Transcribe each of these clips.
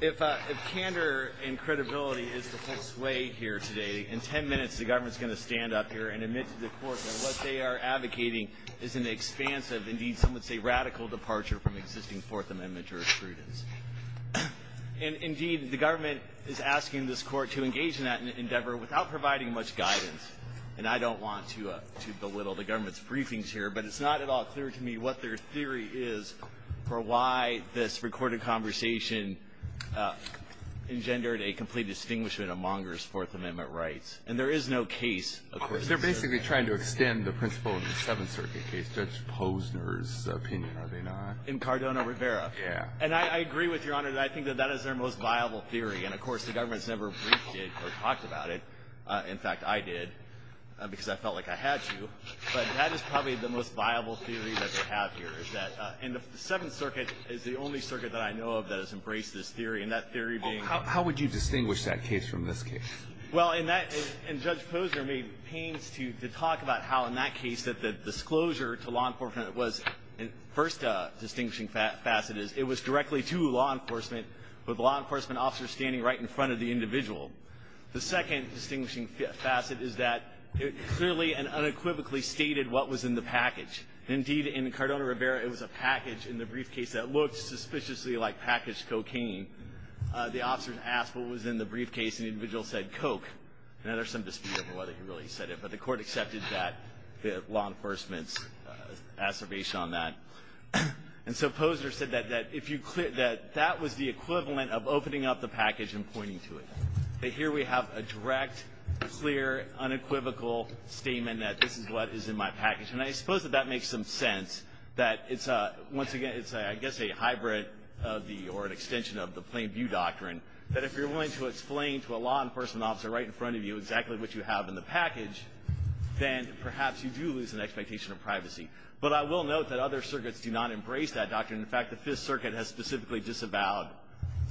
If candor and credibility is the full sway here today, in 10 minutes the government is going to stand up here and admit to the court that what they are advocating is an expansive, indeed some would say radical, departure from existing Fourth Amendment jurisprudence. And, indeed, the government is asking this court to engage in that endeavor without providing much guidance. And I don't want to belittle the government's briefings here, but it's not at all clear to me what their theory is for why this recorded conversation engendered a complete distinguishment of Monghur's Fourth Amendment rights. And there is no case, of course. Alito They're basically trying to extend the principle in the Seventh Circuit case, Judge Posner's opinion, are they not? Brandon Monghur In Cardona Rivera. Alito Yeah. Brandon Monghur And I agree with Your Honor that I think that that is their most viable theory. And, of course, the government has never briefed it or talked about it. In fact, I did because I felt like I had to. But that is probably the most viable theory that they have here, is that in the Seventh Circuit is the only circuit that I know of that has embraced this theory. And that theory being — Alito How would you distinguish that case from this case? Brandon Monghur Well, in that — and Judge Posner made pains to talk about how, in that case, that the disclosure to law enforcement was — first distinguishing facet is it was directly to law enforcement, with law enforcement officers standing right in front of the individual. The second distinguishing facet is that it clearly and unequivocally stated what was in the package. Indeed, in Cardona Rivera, it was a package in the briefcase that looked suspiciously like packaged cocaine. The officers asked what was in the briefcase, and the individual said coke. Now, there's some dispute over whether he really said it, but the court accepted that — the law enforcement's assertion on that. And so Posner said that if you — that that was the equivalent of opening up the package and pointing to it. That here we have a direct, clear, unequivocal statement that this is what is in my package. And I suppose that that makes some sense, that it's a — once again, it's, I guess, a hybrid of the — or an extension of the plain view doctrine, that if you're willing to explain to a law enforcement officer right in front of you exactly what you have in the package, then perhaps you do lose an expectation of privacy. But I will note that other circuits do not embrace that doctrine. In fact, the Fifth Circuit has specifically disavowed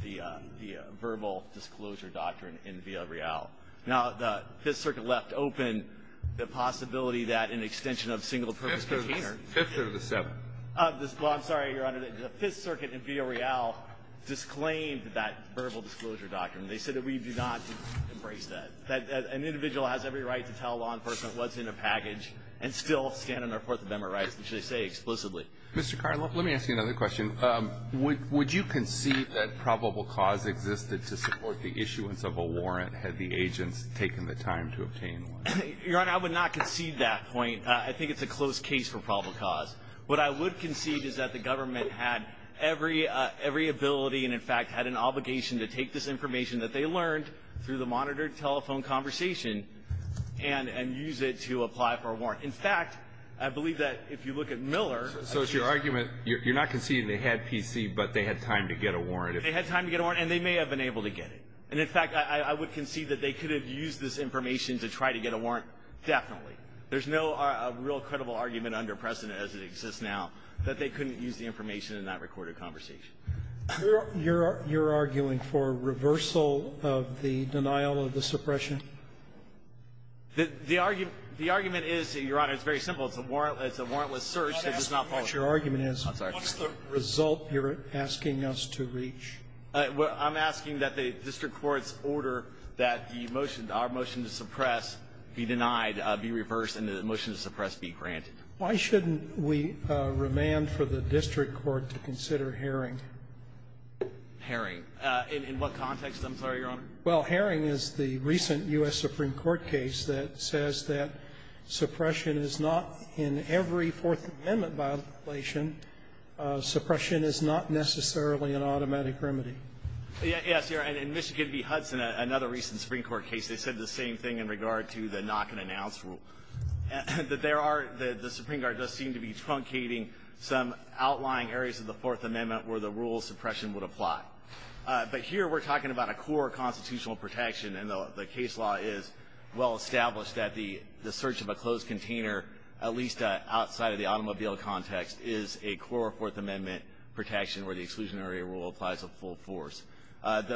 the verbal disclosure doctrine in Villarreal. Now, the Fifth Circuit left open the possibility that an extension of single-purpose cocaine or — Fifth through the seventh. Well, I'm sorry, Your Honor. The Fifth Circuit in Villarreal disclaimed that verbal disclosure doctrine. They said that we do not embrace that, that an individual has every right to tell law enforcement what's in a package and still stand on their Fourth Amendment rights, which they say explicitly. Mr. Carr, let me ask you another question. Would you concede that probable cause existed to support the issuance of a warrant had the agents taken the time to obtain one? Your Honor, I would not concede that point. I think it's a close case for probable cause. What I would concede is that the government had every ability and, in fact, had an obligation to take this information that they learned through the monitored telephone conversation and use it to apply for a warrant. In fact, I believe that if you look at Miller — You're not conceding they had PC, but they had time to get a warrant. They had time to get a warrant, and they may have been able to get it. And, in fact, I would concede that they could have used this information to try to get a warrant, definitely. There's no real credible argument under precedent as it exists now that they couldn't use the information in that recorded conversation. You're arguing for reversal of the denial of the suppression? The argument is, Your Honor, it's very simple. It's a warrantless search that does not follow. That's what your argument is. I'm sorry. What's the result you're asking us to reach? I'm asking that the district court's order that the motion, our motion to suppress, be denied, be reversed, and the motion to suppress be granted. Why shouldn't we remand for the district court to consider Herring? Herring. In what context, I'm sorry, Your Honor? Well, Herring is the recent U.S. Supreme Court case that says that suppression is not in every Fourth Amendment violation. Suppression is not necessarily an automatic remedy. Yes, Your Honor. In Michigan v. Hudson, another recent Supreme Court case, they said the same thing in regard to the knock-and-announce rule, that there are the – the Supreme Court does seem to be truncating some outlying areas of the Fourth Amendment where the rule of suppression would apply. But here we're talking about a core constitutional protection, and the case law is well The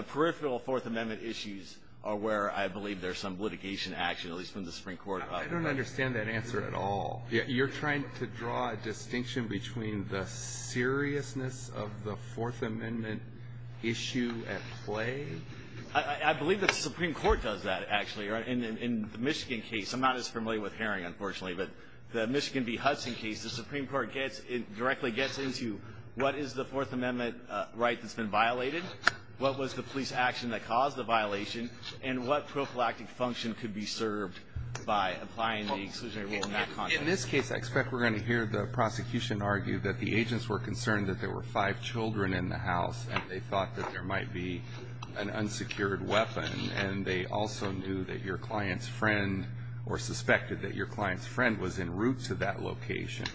peripheral Fourth Amendment issues are where I believe there's some litigation action, at least from the Supreme Court. I don't understand that answer at all. You're trying to draw a distinction between the seriousness of the Fourth Amendment issue at play? I believe the Supreme Court does that, actually. In the Michigan case – I'm not as familiar with Herring, unfortunately, but the Michigan v. Hudson case, the Supreme Court gets – directly gets into what is the Fourth Amendment right that's been violated, what was the police action that caused the violation, and what prophylactic function could be served by applying the exclusionary rule in that context. In this case, I expect we're going to hear the prosecution argue that the agents were concerned that there were five children in the house, and they thought that there might be an unsecured weapon. And they also knew that your client's friend – or suspected that your client's friend was en route to that location.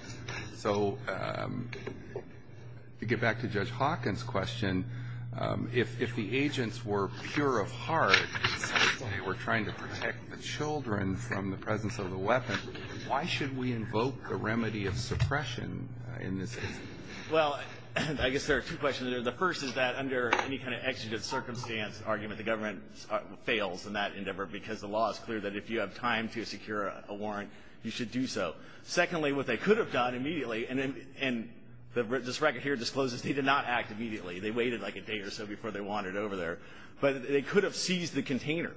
So to get back to Judge Hawkins' question, if the agents were pure of heart, they were trying to protect the children from the presence of the weapon, why should we invoke the remedy of suppression in this case? Well, I guess there are two questions there. The first is that under any kind of exegete circumstance argument, the government fails in that endeavor because the law is clear that if you have time to secure a warrant, you should do so. Secondly, what they could have done immediately – and this record here discloses they did not act immediately. They waited like a day or so before they wandered over there. But they could have seized the container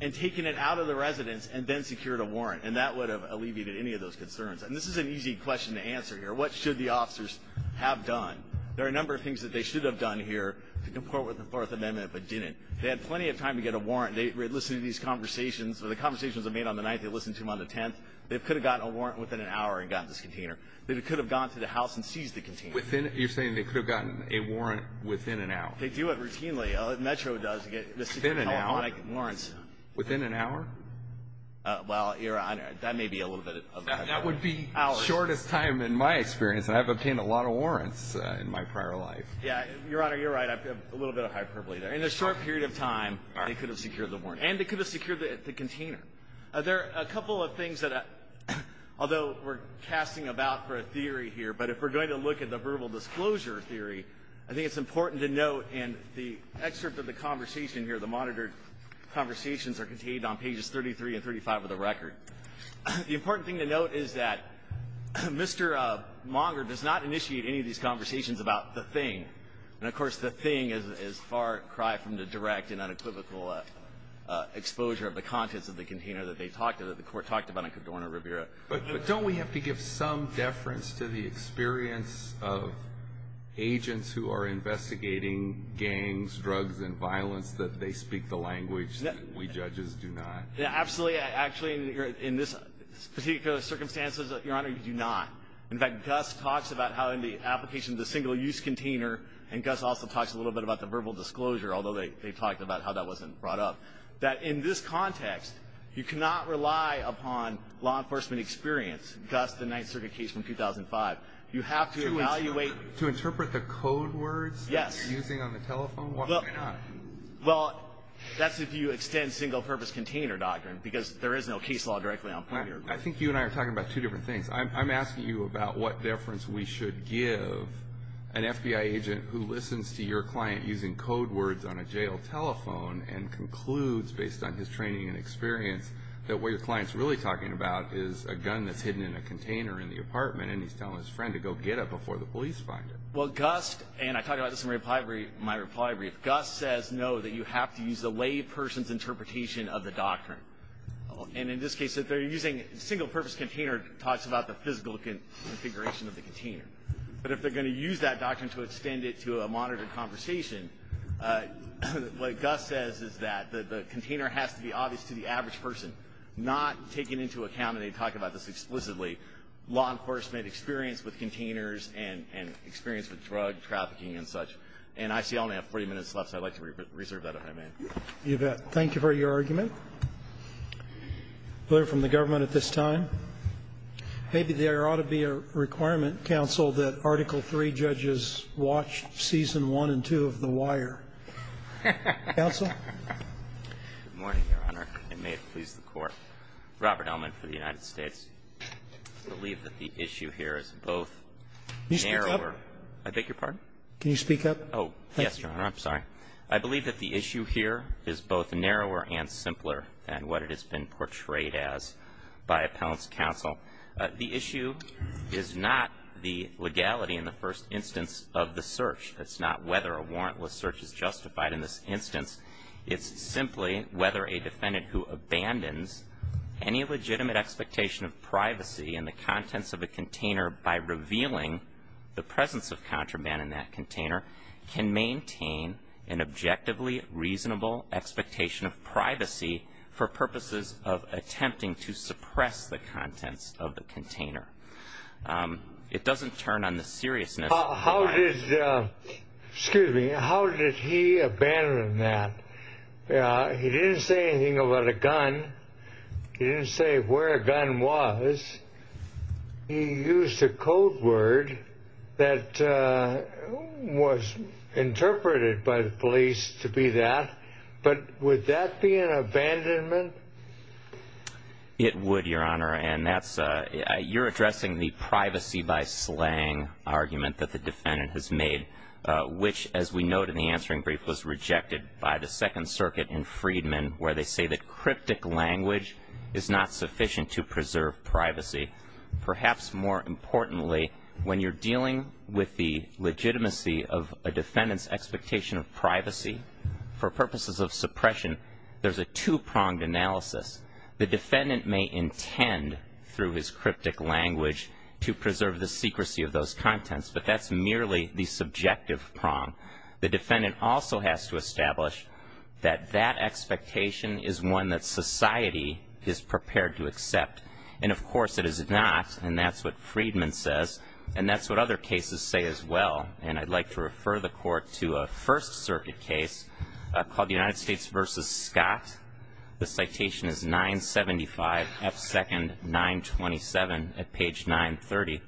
and taken it out of the residence and then secured a warrant, and that would have alleviated any of those concerns. And this is an easy question to answer here. What should the officers have done? There are a number of things that they should have done here to comport with the Fourth Amendment but didn't. They had plenty of time to get a warrant. They listened to these conversations. The conversations they made on the 9th, they listened to them on the 10th. They could have gotten a warrant within an hour and gotten this container. They could have gone to the house and seized the container. You're saying they could have gotten a warrant within an hour? They do it routinely. Metro does. Within an hour? Warrants. Within an hour? Well, that may be a little bit of a – That would be the shortest time in my experience, and I've obtained a lot of warrants in my prior life. Yeah. Your Honor, you're right. I have a little bit of hyperbole there. In a short period of time, they could have secured the warrant. And they could have secured the container. There are a couple of things that, although we're casting about for a theory here, but if we're going to look at the verbal disclosure theory, I think it's important to note in the excerpt of the conversation here, the monitored conversations are contained on pages 33 and 35 of the record. The important thing to note is that Mr. Monger does not initiate any of these conversations about the thing. And, of course, the thing is far cry from the direct and unequivocal exposure of the contents of the container that they talked about, that the Court talked about in Cadorna-Rivera. But don't we have to give some deference to the experience of agents who are investigating gangs, drugs, and violence that they speak the language that we judges do not? Yeah, absolutely. Actually, in this particular circumstance, Your Honor, you do not. In fact, Gus talks about how in the application of the single-use container, and Gus also talks a little bit about the verbal disclosure, although they talked about how that wasn't brought up, that in this context, you cannot rely upon law enforcement experience. Gus, the Ninth Circuit case from 2005, you have to evaluate. To interpret the code words? Yes. Using on the telephone? Why not? Well, that's if you extend single-purpose container doctrine because there is no case law directly on point here. I think you and I are talking about two different things. I'm asking you about what deference we should give an FBI agent who listens to your client using code words on a jail telephone and concludes based on his training and experience that what your client's really talking about is a gun that's hidden in a container in the apartment, and he's telling his friend to go get it before the police find it. Well, Gus, and I talked about this in my reply brief, Gus says no, that you have to use the lay person's interpretation of the doctrine. And in this case, if they're using single-purpose container, it talks about the physical configuration of the container. But if they're going to use that doctrine to extend it to a monitored conversation, what Gus says is that the container has to be obvious to the average person, not taken into account, and they talk about this explicitly, law enforcement experience with containers and experience with drug trafficking and such. And I see I only have 40 minutes left, so I'd like to reserve that if I may. You bet. Thank you for your argument. A letter from the government at this time. Maybe there ought to be a requirement, counsel, that Article III judges watch Season 1 and 2 of The Wire. Counsel? Good morning, Your Honor, and may it please the Court. Robert Ellman for the United States. I believe that the issue here is both narrower. Can you speak up? I beg your pardon? Can you speak up? Oh, yes, Your Honor. I'm sorry. I believe that the issue here is both narrower and simpler than what it has been portrayed as by appellant's counsel. The issue is not the legality in the first instance of the search. It's not whether a warrantless search is justified in this instance. It doesn't turn on the seriousness. How did he abandon that? He didn't say anything about a gun. He didn't say where a gun was. He used a code word that was interpreted by the police to be that. But would that be an abandonment? It would, Your Honor. You're addressing the privacy by slang argument that the defendant has made, which, as we note in the answering brief, was rejected by the Second Circuit in Freedman, where they say that cryptic language is not sufficient to preserve privacy. Perhaps more importantly, when you're dealing with the legitimacy of a defendant's expectation of privacy, for purposes of suppression, there's a two-pronged analysis. The defendant may intend, through his cryptic language, to preserve the secrecy of those contents, but that's merely the subjective prong. The defendant also has to establish that that expectation is one that society is prepared to accept. And, of course, it is not, and that's what Freedman says, and that's what other cases say as well. And I'd like to refer the Court to a First Circuit case called the United States v. Scott. The citation is 975 F. Second 927 at page 930.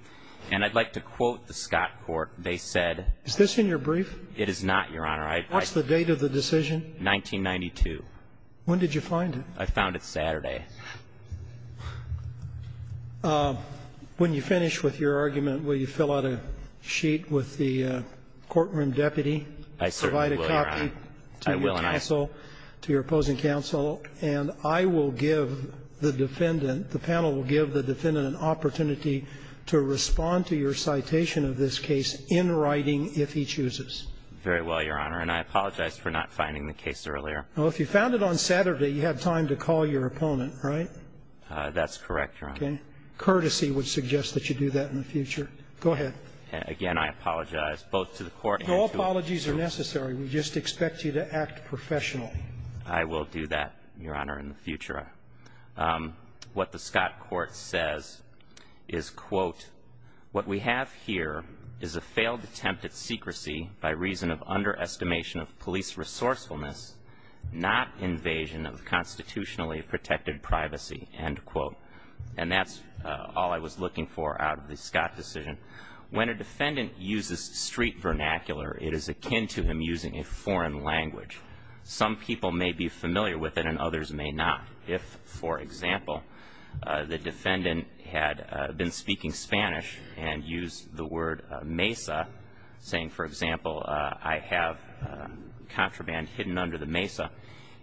And I'd like to quote the Scott court. They said Is this in your brief? It is not, Your Honor. What's the date of the decision? 1992. When did you find it? I found it Saturday. When you finish with your argument, will you fill out a sheet with the courtroom deputy? I certainly will, Your Honor. Provide a copy to your counsel, to your opposing counsel. And I will give the defendant, the panel will give the defendant an opportunity to respond to your citation of this case in writing, if he chooses. Very well, Your Honor. And I apologize for not finding the case earlier. Well, if you found it on Saturday, you had time to call your opponent, right? That's correct, Your Honor. Okay. Courtesy would suggest that you do that in the future. Go ahead. Again, I apologize both to the Court and to the jury. No apologies are necessary. We just expect you to act professionally. I will do that, Your Honor, in the future. I just have a question about the scott court, et cetera. What the scott court says is, quote, what we have here is a failed attempt at secrecy by reason of underestimation of police resourcefulness, not invasion of constitutionally protected privacy, end quote. And that's all I was looking for out of the scott decision. When a defendant uses street vernacular, it is akin to him using a foreign language. Some people may be familiar with it and others may not. If, for example, the defendant had been speaking Spanish and used the word mesa, saying, for example, I have contraband hidden under the mesa.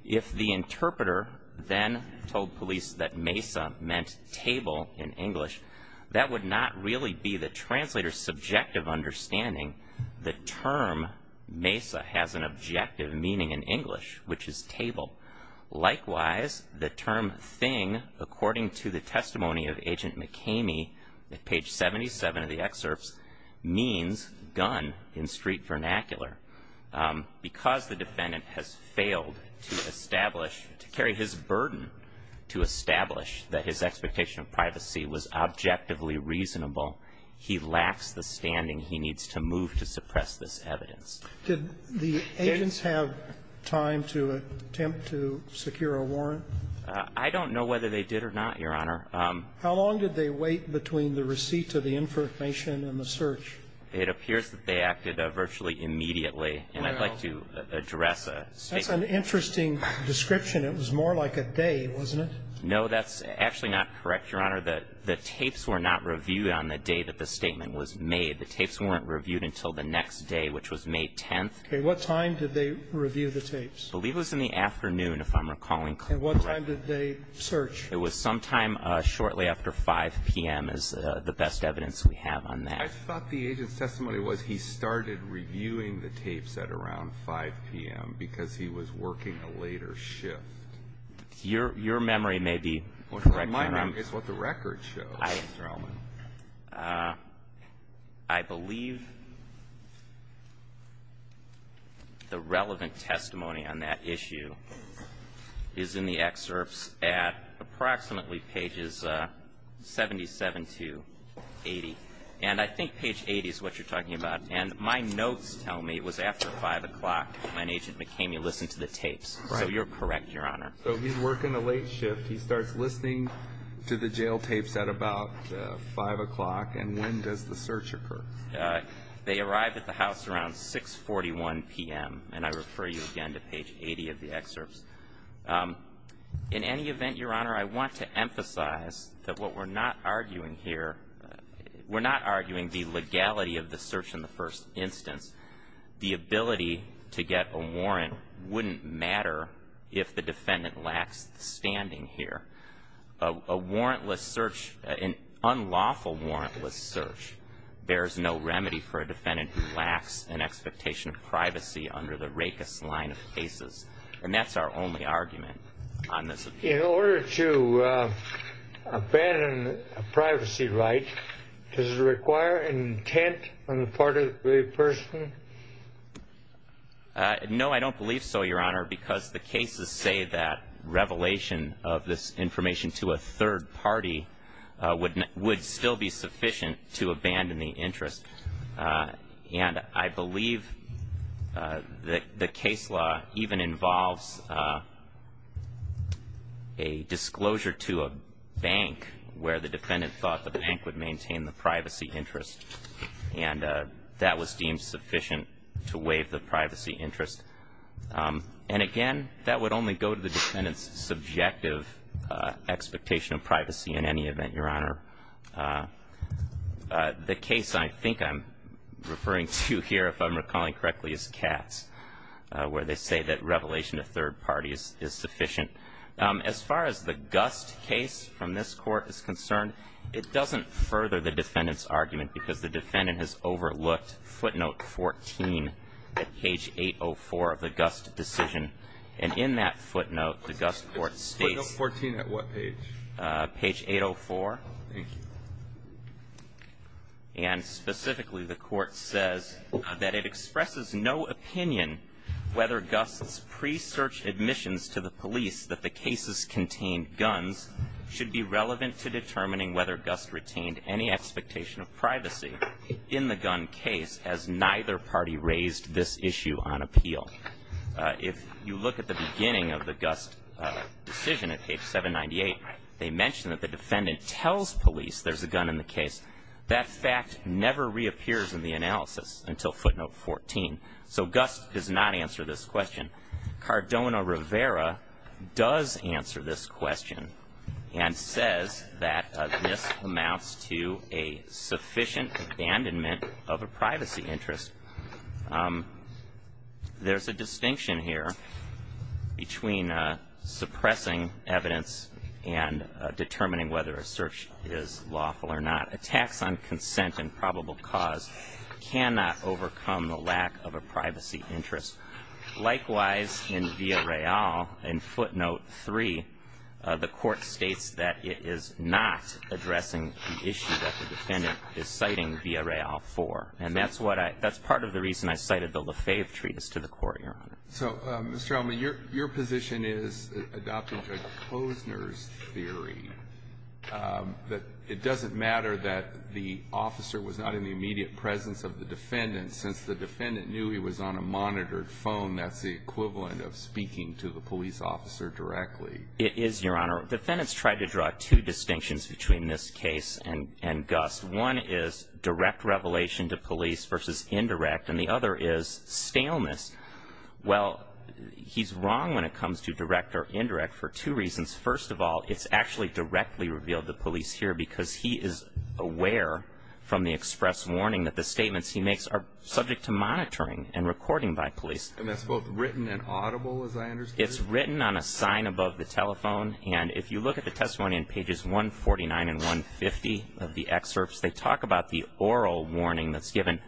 If the interpreter then told police that mesa meant table in English, that would not really be the translator's subjective understanding. The term mesa has an objective meaning in English, which is table. Likewise, the term thing, according to the testimony of agent McKamey at page 77 of the excerpts, means gun in street vernacular. Because the defendant has failed to establish, to carry his burden to establish that his expectation of privacy was objectively reasonable, he lacks the standing he needs to move to suppress this evidence. Did the agents have time to attempt to secure a warrant? I don't know whether they did or not, Your Honor. How long did they wait between the receipt of the information and the search? It appears that they acted virtually immediately. And I'd like to address a statement. That's an interesting description. It was more like a day, wasn't it? No, that's actually not correct, Your Honor. The tapes were not reviewed on the day that the statement was made. The tapes weren't reviewed until the next day, which was May 10th. Okay. What time did they review the tapes? I believe it was in the afternoon, if I'm recalling correctly. And what time did they search? It was sometime shortly after 5 p.m. is the best evidence we have on that. I thought the agent's testimony was he started reviewing the tapes at around 5 p.m. because he was working a later shift. Your memory may be correct, Your Honor. My memory is what the record shows, Mr. Allman. I believe the relevant testimony on that issue is in the excerpts at approximately pages 77 to 80. And I think page 80 is what you're talking about. And my notes tell me it was after 5 o'clock when Agent McKamey listened to the tapes. So you're correct, Your Honor. So he's working a late shift. He starts listening to the jail tapes at about 5 o'clock. And when does the search occur? They arrive at the house around 6.41 p.m. And I refer you again to page 80 of the excerpts. In any event, Your Honor, I want to emphasize that what we're not arguing here, we're not arguing the legality of the search in the first instance. The ability to get a warrant wouldn't matter if the defendant lacks the standing here. An unlawful warrantless search bears no remedy for a defendant who lacks an expectation of privacy under the RACIS line of cases. And that's our only argument on this. In order to abandon a privacy right, does it require an intent on the part of the person? No, I don't believe so, Your Honor, because the cases say that revelation of this information to a third party would still be sufficient to abandon the interest. And I believe that the case law even involves a disclosure to a bank where the defendant thought the bank would maintain the privacy interest. And that was deemed sufficient to waive the privacy interest. And, again, that would only go to the defendant's subjective expectation of privacy in any event, Your Honor. The case I think I'm referring to here, if I'm recalling correctly, is Katz, where they say that revelation to third parties is sufficient. As far as the Gust case from this Court is concerned, it doesn't further the defendant's argument because the defendant has overlooked footnote 14 at page 804 of the Gust decision. And in that footnote, the Gust court states ---- Footnote 14 at what page? Page 804. Thank you. And, specifically, the court says that it expresses no opinion whether Gust's pre-search admissions to the police that the cases contained guns should be relevant to determining whether Gust retained any expectation of privacy in the gun case as neither party raised this issue on appeal. If you look at the beginning of the Gust decision at page 798, they mention that the defendant tells police there's a gun in the case. That fact never reappears in the analysis until footnote 14. So Gust does not answer this question. Cardona Rivera does answer this question and says that this amounts to a sufficient abandonment of a privacy interest. There's a distinction here between suppressing evidence and determining whether a search is lawful or not. Attacks on consent and probable cause cannot overcome the lack of a privacy interest. Likewise, in Villarreal, in footnote 3, the court states that it is not addressing an issue that the defendant is citing Villarreal for. And that's what I – that's part of the reason I cited the LaFave Treatise to the court, Your Honor. So, Mr. Elman, your position is, adopting Judge Posner's theory, that it doesn't matter that the officer was not in the immediate presence of the defendant since the defendant knew he was on a monitored phone. That's the equivalent of speaking to the police officer directly. It is, Your Honor. Defendants tried to draw two distinctions between this case and Gust. One is direct revelation to police versus indirect. And the other is staleness. Well, he's wrong when it comes to direct or indirect for two reasons. First of all, it's actually directly revealed to police here because he is aware from the express warning that the statements he makes are subject to monitoring and recording by police. And that's both written and audible, as I understand it? It's written on a sign above the telephone. And if you look at the testimony in pages 149 and 150 of the excerpts, they talk about the oral warning that's given.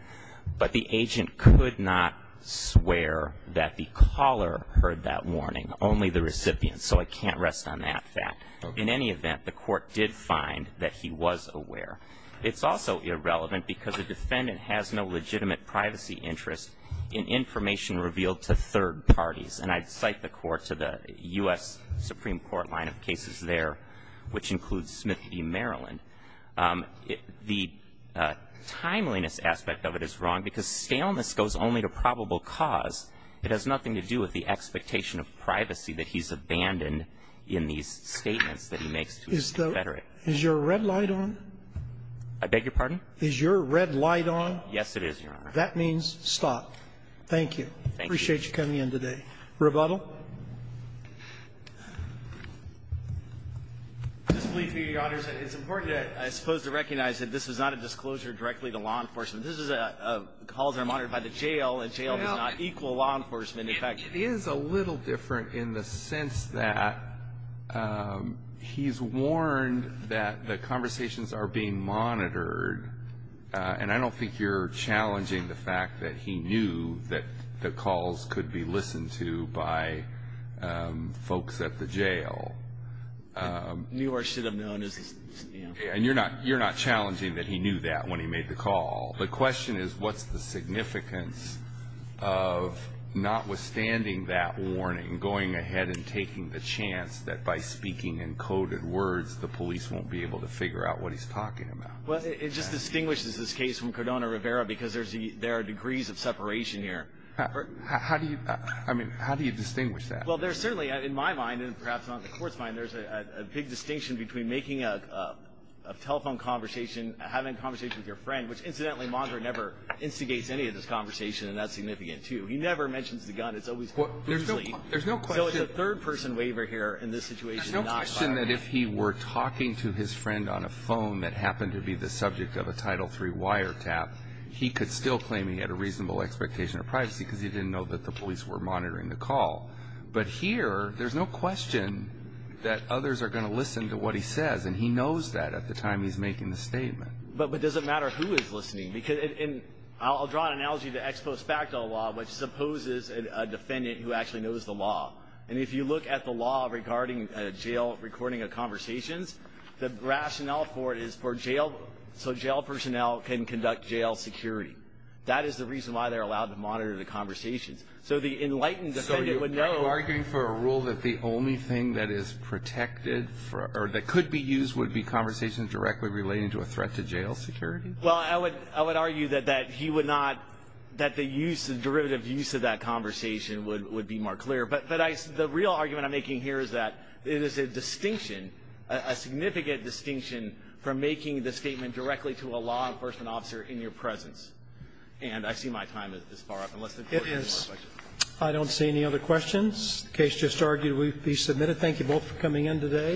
But the agent could not swear that the caller heard that warning, only the recipient. So I can't rest on that fact. In any event, the court did find that he was aware. It's also irrelevant because the defendant has no legitimate privacy interest in information revealed to third parties. And I'd cite the Court to the U.S. Supreme Court line of cases there, which includes Smith v. Maryland. The timeliness aspect of it is wrong because staleness goes only to probable cause. It has nothing to do with the expectation of privacy that he's abandoned in these statements that he makes to his confederate. Is your red light on? I beg your pardon? Is your red light on? Yes, it is, Your Honor. That means stop. Thank you. Thank you. I appreciate you coming in today. Rebuttal. This pleads me, Your Honors, that it's important, I suppose, to recognize that this is not a disclosure directly to law enforcement. This is a calls are monitored by the jail, and jail is not equal law enforcement. In fact, it is a little different in the sense that he's warned that the conversations are being monitored, and I don't think you're challenging the fact that he knew that the calls could be listened to by folks at the jail. New York should have known. And you're not challenging that he knew that when he made the call. The question is what's the significance of notwithstanding that warning, going ahead and taking the chance that by speaking in coded words the police won't be able to figure out what he's talking about. It just distinguishes this case from Cardona-Rivera because there are degrees of How do you, I mean, how do you distinguish that? Well, there's certainly, in my mind, and perhaps on the Court's mind, there's a big distinction between making a telephone conversation, having a conversation with your friend, which, incidentally, monitor never instigates any of this conversation, and that's significant, too. He never mentions the gun. It's always loosely. There's no question. So it's a third-person waiver here in this situation. There's no question that if he were talking to his friend on a phone that happened to be the subject of a Title III wiretap, he could still claim he had a reasonable expectation of privacy because he didn't know that the police were monitoring the call. But here, there's no question that others are going to listen to what he says, and he knows that at the time he's making the statement. But does it matter who is listening? I'll draw an analogy to ex post facto law, which supposes a defendant who actually knows the law, and if you look at the law regarding recording of conversations, the rationale for it is for jail personnel can conduct jail security. That is the reason why they're allowed to monitor the conversations. So the enlightened defendant would know. So are you arguing for a rule that the only thing that is protected or that could be used would be conversations directly relating to a threat to jail security? Well, I would argue that he would not, that the use, the derivative use of that conversation would be more clear. But the real argument I'm making here is that it is a distinction, a significant distinction from making the statement directly to a law enforcement officer in your presence. And I see my time is far up. It is. I don't see any other questions. The case just argued will be submitted. Thank you both for coming in today.